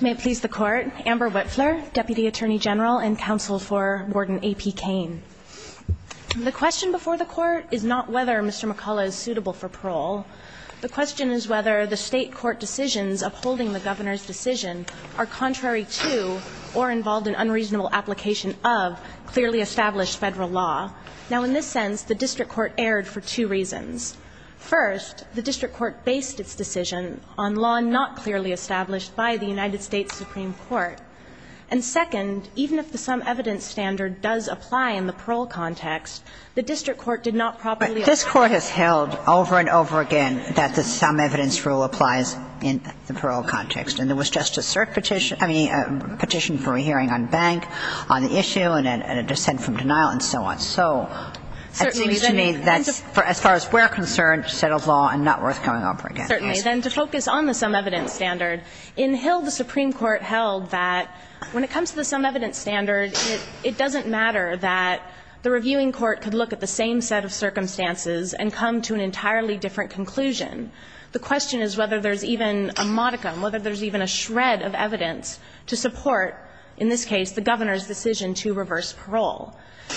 May it please the Court, Amber Whitfler, Deputy Attorney General and Counsel for Warden A.P. Kane. The question before the Court is not whether Mr. McCullough is suitable for parole. The question is whether the State court decisions upholding the Governor's decision are contrary to or involved in unreasonable application of clearly established Federal law. Now, in this sense, the district court erred for two reasons. First, the district court based its decision on law not clearly established by the United States Supreme Court. And second, even if the sum evidence standard does apply in the parole context, the district court did not properly apply it. But this Court has held over and over again that the sum evidence rule applies in the parole context, and there was just a cert petition, I mean, a petition for a hearing on bank, on the issue, and a dissent from denial, and so on. So it seems to me that's, as far as we're concerned, settled law and not worth coming over again. Certainly. Then to focus on the sum evidence standard, in Hill, the Supreme Court held that when it comes to the sum evidence standard, it doesn't matter that the reviewing court could look at the same set of circumstances and come to an entirely different conclusion. The question is whether there's even a modicum, whether there's even a shred of evidence to support, in this case, the Governor's decision to reverse parole.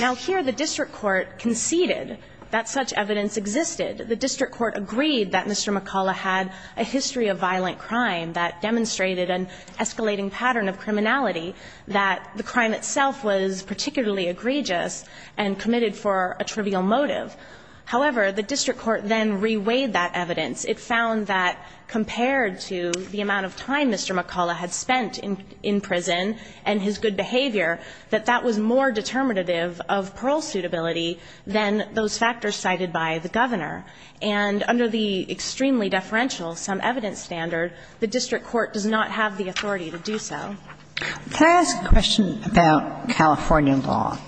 Now, here the district court conceded that such evidence existed. The district court agreed that Mr. McCullough had a history of violent crime that demonstrated an escalating pattern of criminality, that the crime itself was particularly egregious and committed for a trivial motive. However, the district court then reweighed that evidence. It found that compared to the amount of time Mr. McCullough had spent in prison and his good behavior, that that was more determinative of parole suitability than those factors cited by the Governor. And under the extremely deferential sum evidence standard, the district court does not have the authority to do so. Can I ask a question about California law?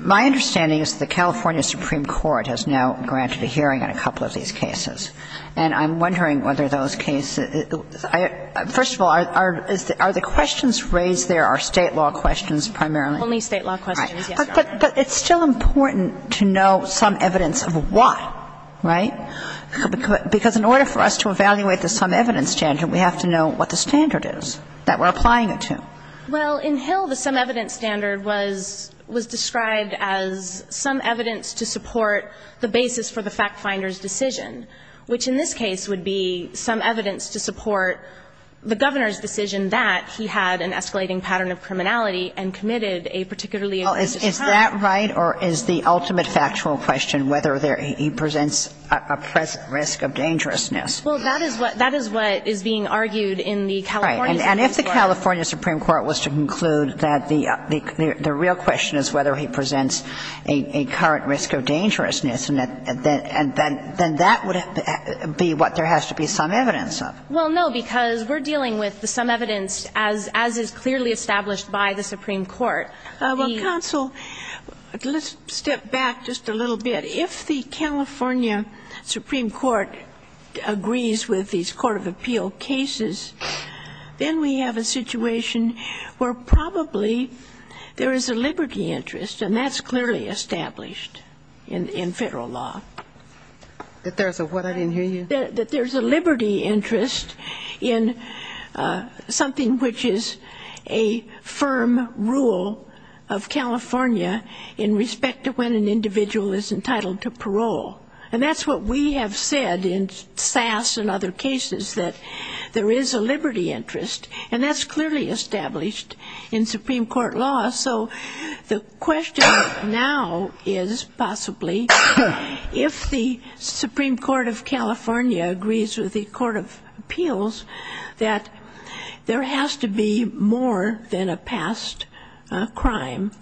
My understanding is the California Supreme Court has now granted a hearing on a couple of these cases. And I'm wondering whether those cases are the questions raised there are State law questions primarily? Only State law questions, yes, Your Honor. But it's still important to know sum evidence of what, right? Because in order for us to evaluate the sum evidence standard, we have to know what the standard is that we're applying it to. Well, in Hill, the sum evidence standard was described as sum evidence to support the basis for the fact finder's decision, which in this case would be sum evidence to support the Governor's decision that he had an escalating pattern of criminality and committed a particularly aggressive crime. Well, is that right, or is the ultimate factual question whether there he presents a present risk of dangerousness? Well, that is what is being argued in the California Supreme Court. Right. And if the California Supreme Court was to conclude that the real question is whether he presents a current risk of dangerousness, then that would be what there has to be sum evidence of. Well, no, because we're dealing with the sum evidence as is clearly established by the Supreme Court. Well, counsel, let's step back just a little bit. If the California Supreme Court agrees with these court of appeal cases, then we have a situation where probably there is a liberty interest, and that's clearly established in Federal law. That there's a what? I didn't hear you. That there's a liberty interest in something which is a firm rule of California in respect to when an individual is entitled to parole. And that's what we have said in SAS and other cases, that there is a liberty interest. And that's clearly established in Supreme Court law. So the question now is possibly if the Supreme Court of California agrees with the court of appeals, that there has to be more than a past crime,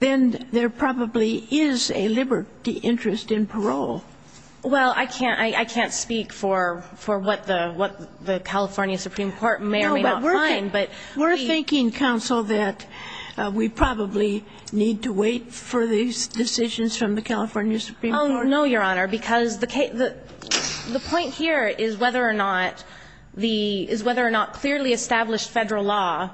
then there probably is a liberty interest in parole. Well, I can't speak for what the California Supreme Court may or may not find. But we're thinking, counsel, that we probably need to wait for these decisions from the California Supreme Court. Oh, no, Your Honor, because the point here is whether or not the – is whether or not clearly established Federal law,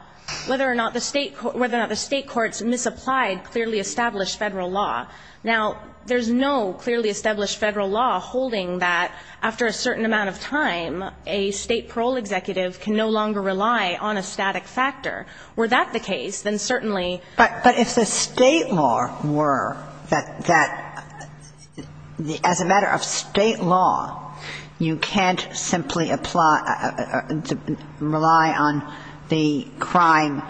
whether or not the State courts misapplied clearly established Federal law. Now, there's no clearly established Federal law holding that after a certain amount of time, a State parole executive can no longer rely on a static factor. Were that the case, then certainly – But if the State law were that – that as a matter of State law, you can't simply apply – rely on the crime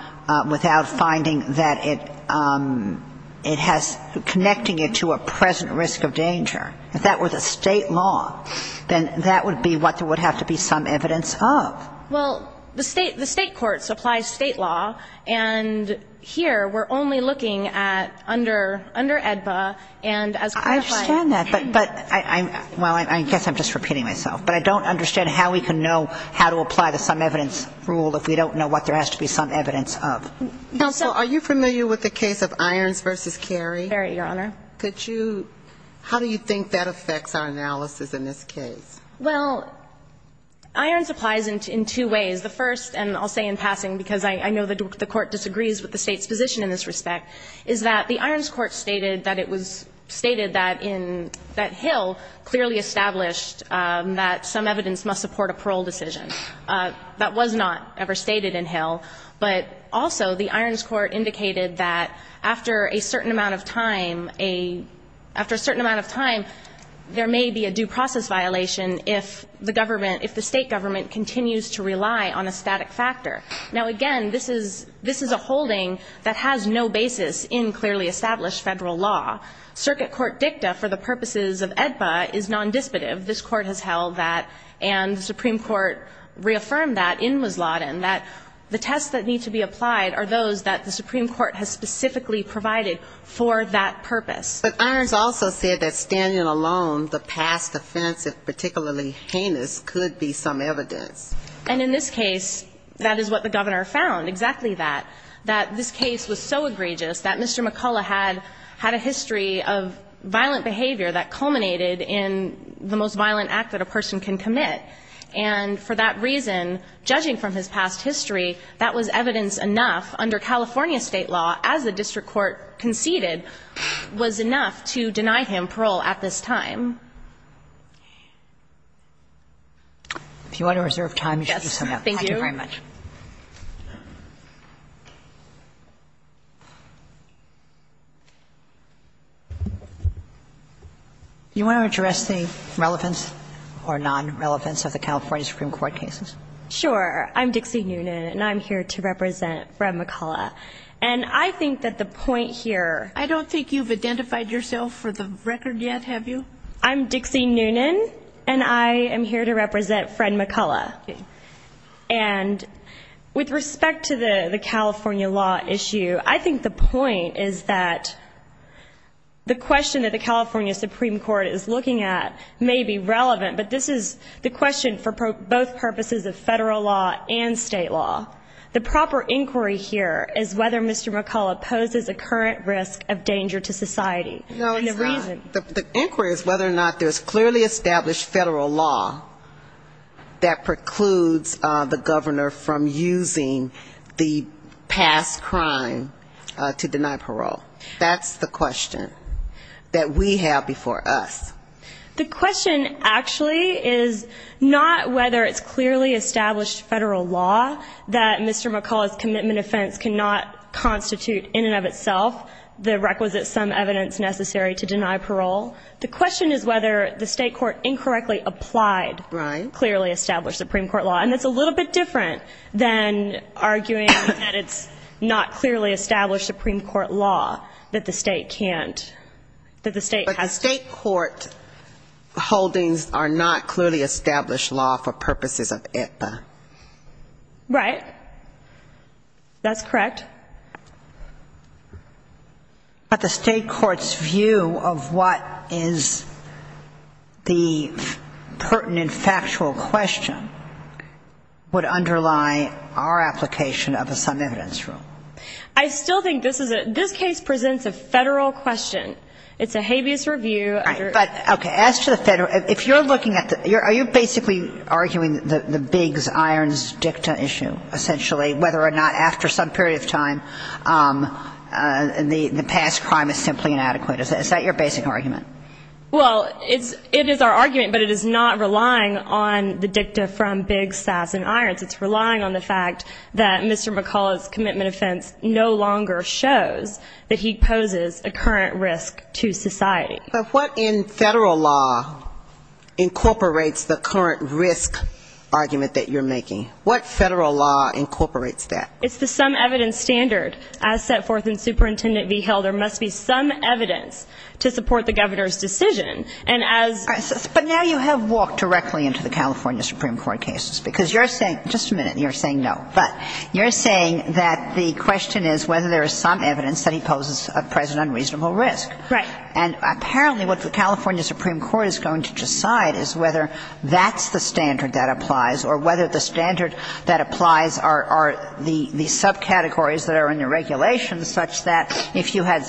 without finding that it has – connecting it to a present risk of danger. If that were the State law, then that would be what there would have to be some evidence of. Well, the State – the State courts apply State law, and here we're only looking at under – under AEDBA and as qualified. I understand that, but I'm – well, I guess I'm just repeating myself. But I don't understand how we can know how to apply the some evidence rule if we don't know what there has to be some evidence of. Counsel, are you familiar with the case of Irons v. Carey? Carey, Your Honor. Could you – how do you think that affects our analysis in this case? Well, Irons applies in two ways. The first – and I'll say in passing because I know the court disagrees with the State's position in this respect – is that the Irons court stated that it was – stated that in – that Hill clearly established that some evidence must support a parole decision. That was not ever stated in Hill. But also, the Irons court indicated that after a certain amount of time, a – after a certain amount of time, there may be a due process violation if the government – if the State government continues to rely on a static factor. Now, again, this is – this is a holding that has no basis in clearly established federal law. Circuit court dicta for the purposes of AEDBA is nondisputive. This court has held that, and the Supreme Court reaffirmed that in Wislodin, that the tests that need to be applied are those that the Supreme Court has specifically provided for that purpose. But Irons also said that standing alone, the past offense, if particularly heinous, could be some evidence. And in this case, that is what the governor found, exactly that. That this case was so egregious that Mr. McCullough had – had a history of violent behavior that culminated in the most violent act that a person can commit. And for that reason, judging from his past history, that was evidence enough under California State law as the district court conceded was enough to deny him parole at this time. If you want to reserve time, you should do so now. Thank you very much. Thank you. You want to address the relevance or nonrelevance of the California Supreme Court cases? Sure. I'm Dixie Noonan, and I'm here to represent Fred McCullough. And I think that the point here – I don't think you've identified yourself for the record yet, have you? I'm Dixie Noonan, and I am here to represent Fred McCullough. And with respect to the California law issue, I think the point is that the question that the California Supreme Court is looking at may be relevant, but this is the question for both purposes of federal law and state law. The proper inquiry here is whether Mr. McCullough poses a current risk of danger to society. No, he's not. And the reason – The inquiry is whether or not there's clearly established federal law that protects or precludes the governor from using the past crime to deny parole. That's the question that we have before us. The question actually is not whether it's clearly established federal law that Mr. McCullough's commitment offense cannot constitute in and of itself the requisite sum evidence necessary to deny parole. The question is whether the state court incorrectly applied clearly established Supreme Court law, and that's a little bit different than arguing that it's not clearly established Supreme Court law that the state can't – that the state has to – But the state court holdings are not clearly established law for purposes of IPA. Right. That's correct. But the state court's view of what is the pertinent factual question would underlie our application of a sum evidence rule. I still think this is a – this case presents a federal question. It's a habeas review. Right. But, okay, as to the federal – if you're looking at the – are you basically arguing the Biggs-Irons-Dicta issue, essentially, whether or not after some period of time the past crime is simply inadequate? Is that your basic argument? Well, it's – it is our argument, but it is not relying on the dicta from Biggs-Sass-and-Irons. It's relying on the fact that Mr. McCullough's commitment offense no longer shows that he poses a current risk to society. But what in federal law incorporates the current risk argument that you're making? What federal law incorporates that? It's the sum evidence standard as set forth in Superintendent Vigil. There must be some evidence to support the governor's decision. And as – But now you have walked directly into the California Supreme Court cases, because you're saying – just a minute – you're saying no. But you're saying that the question is whether there is some evidence that he poses a present unreasonable risk. Right. And apparently what the California Supreme Court is going to decide is whether that's the standard that applies or whether the standard that applies are the subcategories that are in the regulations, such that if you had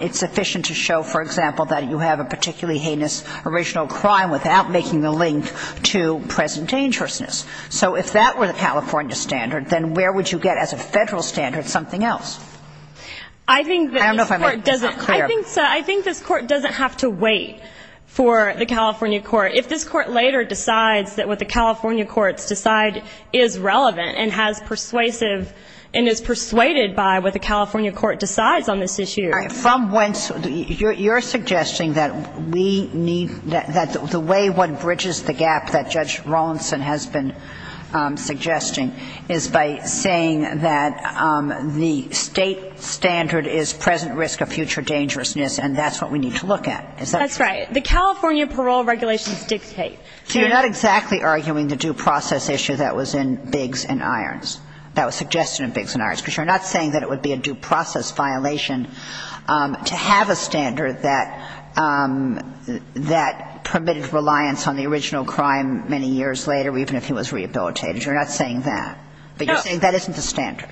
– it's sufficient to show, for example, that you have a particularly heinous original crime without making the link to present dangerousness. So if that were the California standard, then where would you get as a federal standard something else? I think that this court doesn't – I don't know if I made myself clear. I think this court doesn't have to wait for the California court. If this court later decides that what the California courts decide is relevant and has persuasive – and is persuaded by what the California court decides on this issue – From whence – you're suggesting that we need – that the way one bridges the gap that Judge Rawlinson has been suggesting is by saying that the state standard is present risk of future dangerousness and that's what we need to look at. Is that true? That's right. The California parole regulations dictate – So you're not exactly arguing the due process issue that was in Biggs and Irons, that was suggested in Biggs and Irons, because you're not saying that it would be a due process violation to have a standard that permitted reliance on the original crime many years later, even if he was rehabilitated. You're not saying that. No. But you're saying that isn't the standard.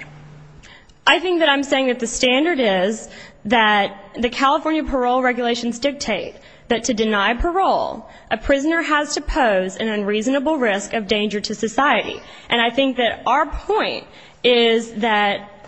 I think that I'm saying that the standard is that the California parole regulations dictate that to deny parole, a prisoner has to pose an unreasonable risk of danger to society. And I think that our point is that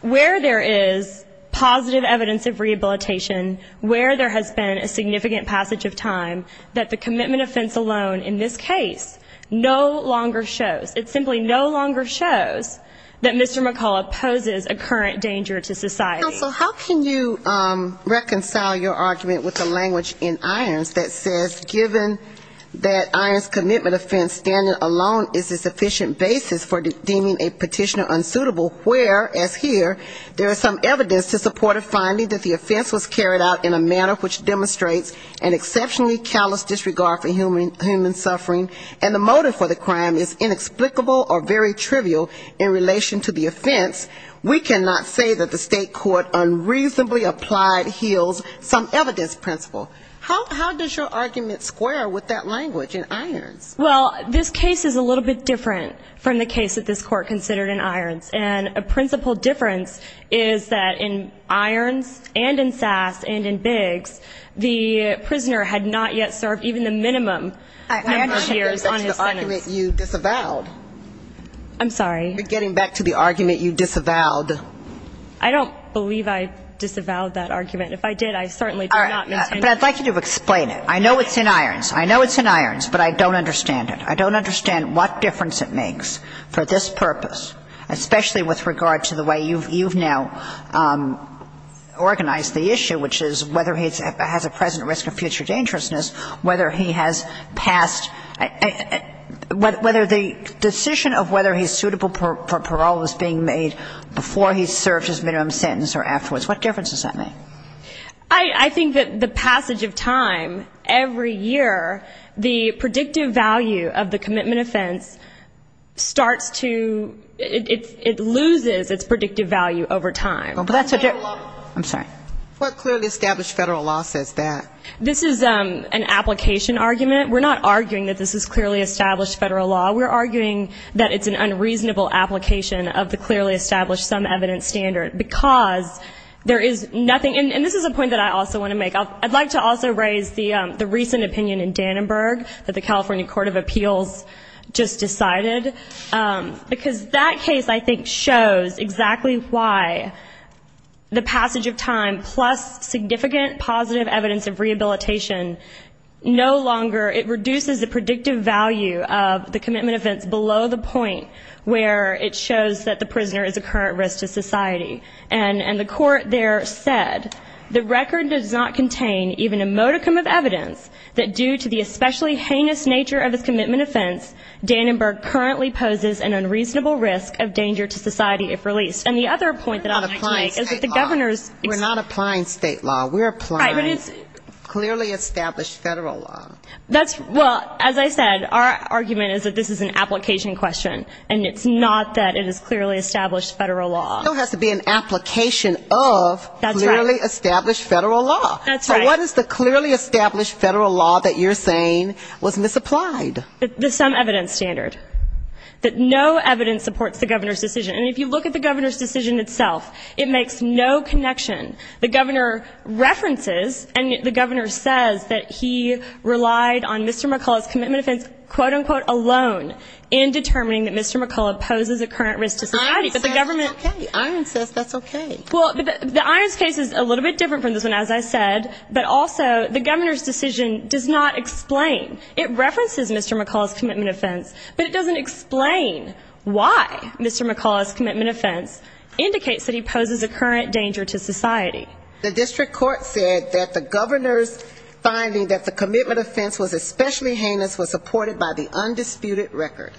where there is positive evidence of rehabilitation, where there has been a significant passage of time, that the commitment offense alone in this case no longer shows. It simply no longer shows that Mr. McCullough poses a current danger to society. Counsel, how can you reconcile your argument with the language in Irons that says given that Irons' commitment offense standard alone is a sufficient basis for deeming a petitioner unsuitable, where, as here, there is some evidence to support a finding that the offense was carried out in a manner which demonstrates an exceptionally callous disregard for human suffering and the motive for the crime is inexplicable or very trivial in relation to the offense, we cannot say that the state court unreasonably applied heals some evidence principle. How does your argument square with that language in Irons? Well, this case is a little bit different from the case that this court considered in Irons. And a principal difference is that in Irons and in Sass and in Biggs, the prisoner had not yet served even the minimum number of years on his sentence. I'm sorry. You're getting back to the argument you disavowed. I don't believe I disavowed that argument. If I did, I certainly did not. But I'd like you to explain it. I know it's in Irons. I know it's in Irons, but I don't understand it. I don't understand what difference it makes for this purpose, especially with regard to the way you've now organized the issue, which is whether he has a present risk of future dangerousness, whether he has passed whether the decision of whether he's suitable for parole is being made before he's served his minimum sentence or afterwards. What difference does that make? I think that the passage of time every year, the predictive value of the commitment offense starts to, it loses its predictive value over time. I'm sorry. What clearly established Federal law says that? This is an application argument. We're not arguing that this is clearly established Federal law. We're arguing that it's an unreasonable application of the clearly established some evidence standard because there is nothing and this is a point that I also want to make. I'd like to also raise the recent opinion in Dannenberg that the California Court of Appeals just decided because that case I think shows exactly why the passage of time plus significant positive evidence of rehabilitation no longer, it reduces the predictive value of the commitment offense below the point where it shows that the prisoner is a current risk to society. And the court there said, the record does not contain even a modicum of evidence that due to the especially heinous nature of his commitment offense Dannenberg currently poses an unreasonable risk of danger to society if released. And the other point that I'd like to make is that the governor's... We're not applying state law. We're applying clearly established Federal law. That's, well, as I said, our argument is that this is an application question and it's not that it is clearly established Federal law. It still has to be an application of clearly established Federal law. That's right. So what is the clearly established Federal law that you're saying was misapplied? The some evidence standard. That no evidence supports the governor's decision and if you look at the governor's decision itself, it makes no connection. The governor references and the governor says that he relied on Mr. McCullough's commitment offense, quote unquote, alone in determining that Mr. McCullough poses a current risk to society. But the government... Irons says that's okay. Well, the Irons case is a little bit different from this one, as I said, but also the governor's decision does not explain. It references Mr. McCullough's commitment offense, but it doesn't explain why Mr. McCullough's commitment offense indicates that he poses a current danger to society. The district court said that the governor's finding that the commitment offense was especially heinous was supported by the undisputed record.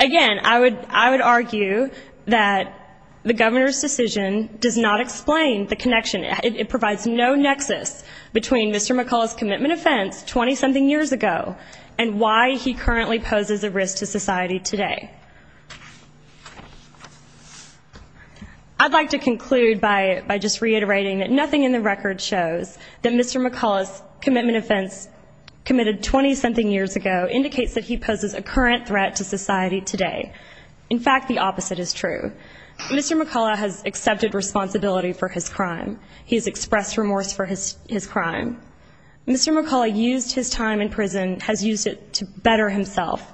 Again, I would argue that the governor's decision does not explain the connection. It provides no nexus between Mr. McCullough's commitment offense 20 something years ago and why he currently poses a risk to society today. I'd like to conclude by just reiterating that nothing in the record shows that Mr. McCullough's commitment offense committed 20 something years ago indicates that he poses a current threat to society today. In fact, the opposite is true. Mr. McCullough has accepted responsibility for his crime. He has expressed remorse for his crime. Mr. McCullough used his time in prison, has used it to better himself.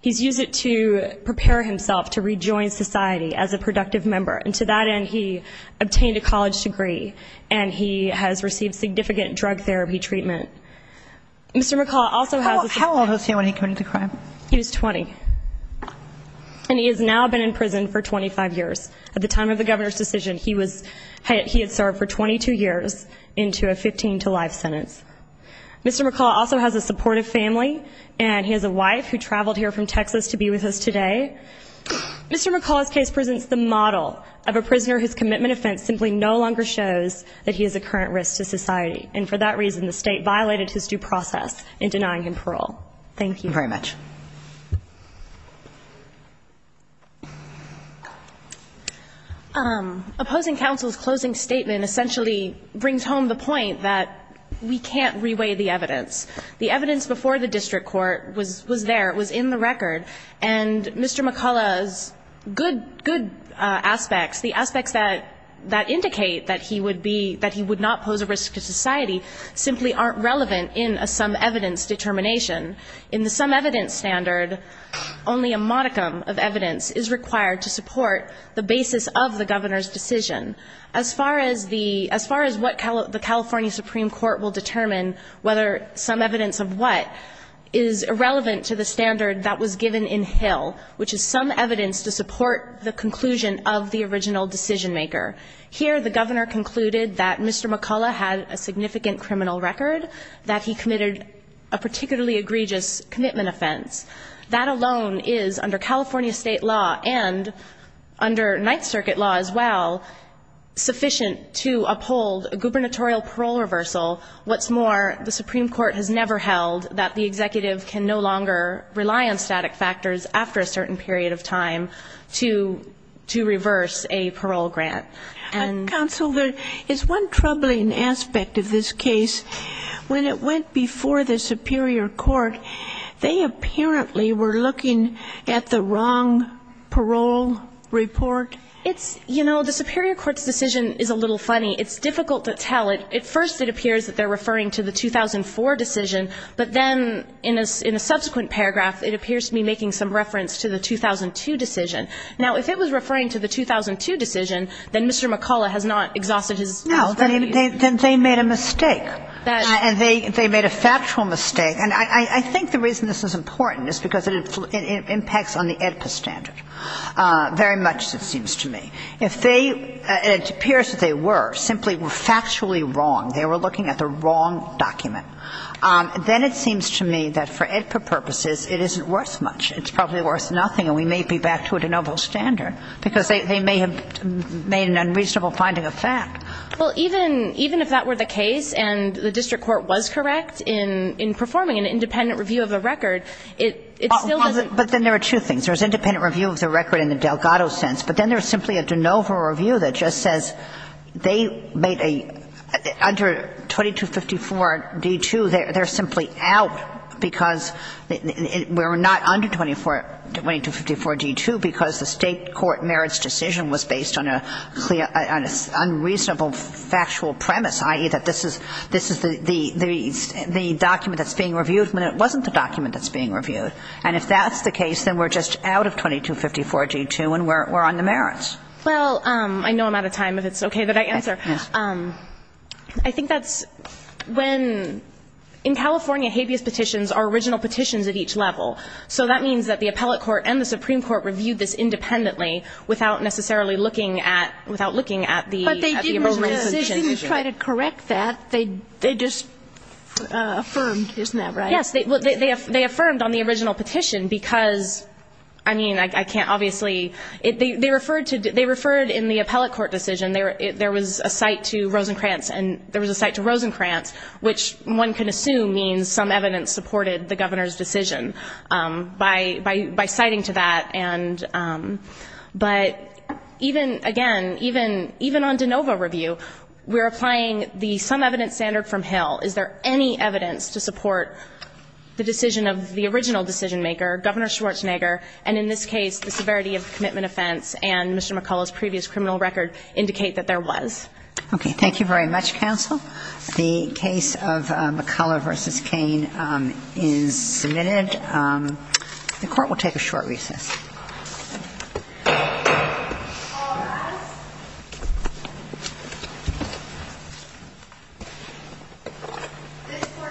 He's used it to prepare himself to rejoin society as a productive member. And to that end, he obtained a college degree and he has received significant drug therapy treatment. Mr. McCullough also has... How old was he when he committed the crime? He was 20. And he has now been in prison for 25 years. At the time of the governor's decision, he had served for 22 years into a 15 to life sentence. Mr. McCullough also has a supportive family and he has a wife who traveled here from Texas to be with us today. Mr. McCullough's case presents the model of a prisoner whose commitment offense simply no longer shows that he is a current risk to society. And for that reason, the state violated his due process in denying him parole. Thank you. Thank you very much. Opposing counsel's closing statement essentially brings home the point that we can't re-weigh The evidence before the district court was there. It was in the record. And Mr. McCullough's case presents that Mr. McCullough's good aspects, the aspects that indicate that he would not pose a risk to society simply aren't relevant in a some-evidence determination. In the some-evidence standard, only a modicum of evidence is required to support the basis of the governor's decision. As far as what the California Supreme Court will determine whether some evidence of what is irrelevant to the standard that was given in Hill, which is Here, the governor concluded that Mr. McCullough had a significant criminal record, that he committed a particularly egregious commitment offense. That alone is, under California state law and under Ninth Circuit law as well, sufficient to uphold a gubernatorial parole reversal. What's more, the Supreme Court has after a certain period of time. The Supreme Court has never held that the executive can no longer to reverse a parole grant. Counsel, there is one troubling aspect of this case. When it went before the Superior Court, they apparently were looking at the wrong parole report. It's, you know, the Superior Court's decision is a little funny. It's difficult to tell. At first it appears that they're referring to the 2004 decision, but then in a subsequent paragraph it appears to be making some reference to the 2002 decision. Now, if it was referring to the 2002 decision, then Mr. McCullough has not exhausted his responsibility. No, then they made a mistake. And they made a factual mistake. And I think the reason this is important is because it impacts on the AEDPA standard very much, it seems to me. If they, and it appears that they were, simply were factually wrong, they were looking at the wrong document, then it seems to me that for AEDPA purposes it isn't worth much. It's probably worth nothing, and we may be back to a de novo standard, because they may have made an unreasonable finding of fact. Well, even if that were the case and the district court was correct in performing an independent review of a record, it still doesn't. But then there are two things. There's independent review of the record in the Delgado sense, but then there's simply a de novo review that just says they made a mistake. Under 2254-D2, they're simply out because we're not under 2254-D2 because the state court merits decision was based on a clear unreasonable factual premise, i.e., that this is the document that's being reviewed when it wasn't the document that's being reviewed. And if that's the case, then we're just out of 2254-D2 and we're on the merits. Well, I know I'm out of time, if it's okay that I answer. Yes. I think that's when – in California, habeas petitions are original petitions at each level. So that means that the appellate court and the Supreme Court reviewed this independently without necessarily looking at – without looking at the original petition. But they didn't try to correct that. They just affirmed. Isn't that right? Yes. They affirmed on the original petition because, I mean, I can't obviously – they referred to – they referred in the appellate court the original decision. There was a cite to Rosencrantz. And there was a cite to Rosencrantz, which one can assume means some evidence supported the governor's decision by citing to that. And – but even – again, even on de novo review, we're applying the some evidence standard from Hill. Is there any evidence to support the decision of the original decision-maker, Governor Schwarzenegger, and in this case, the severity of the commitment offense and Mr. McCullough's previous criminal record indicate that there was? Okay. Thank you very much, counsel. The case of McCullough v. Kane is submitted. The Court will take a short recess. All rise. This Court stands to recess for Dignity.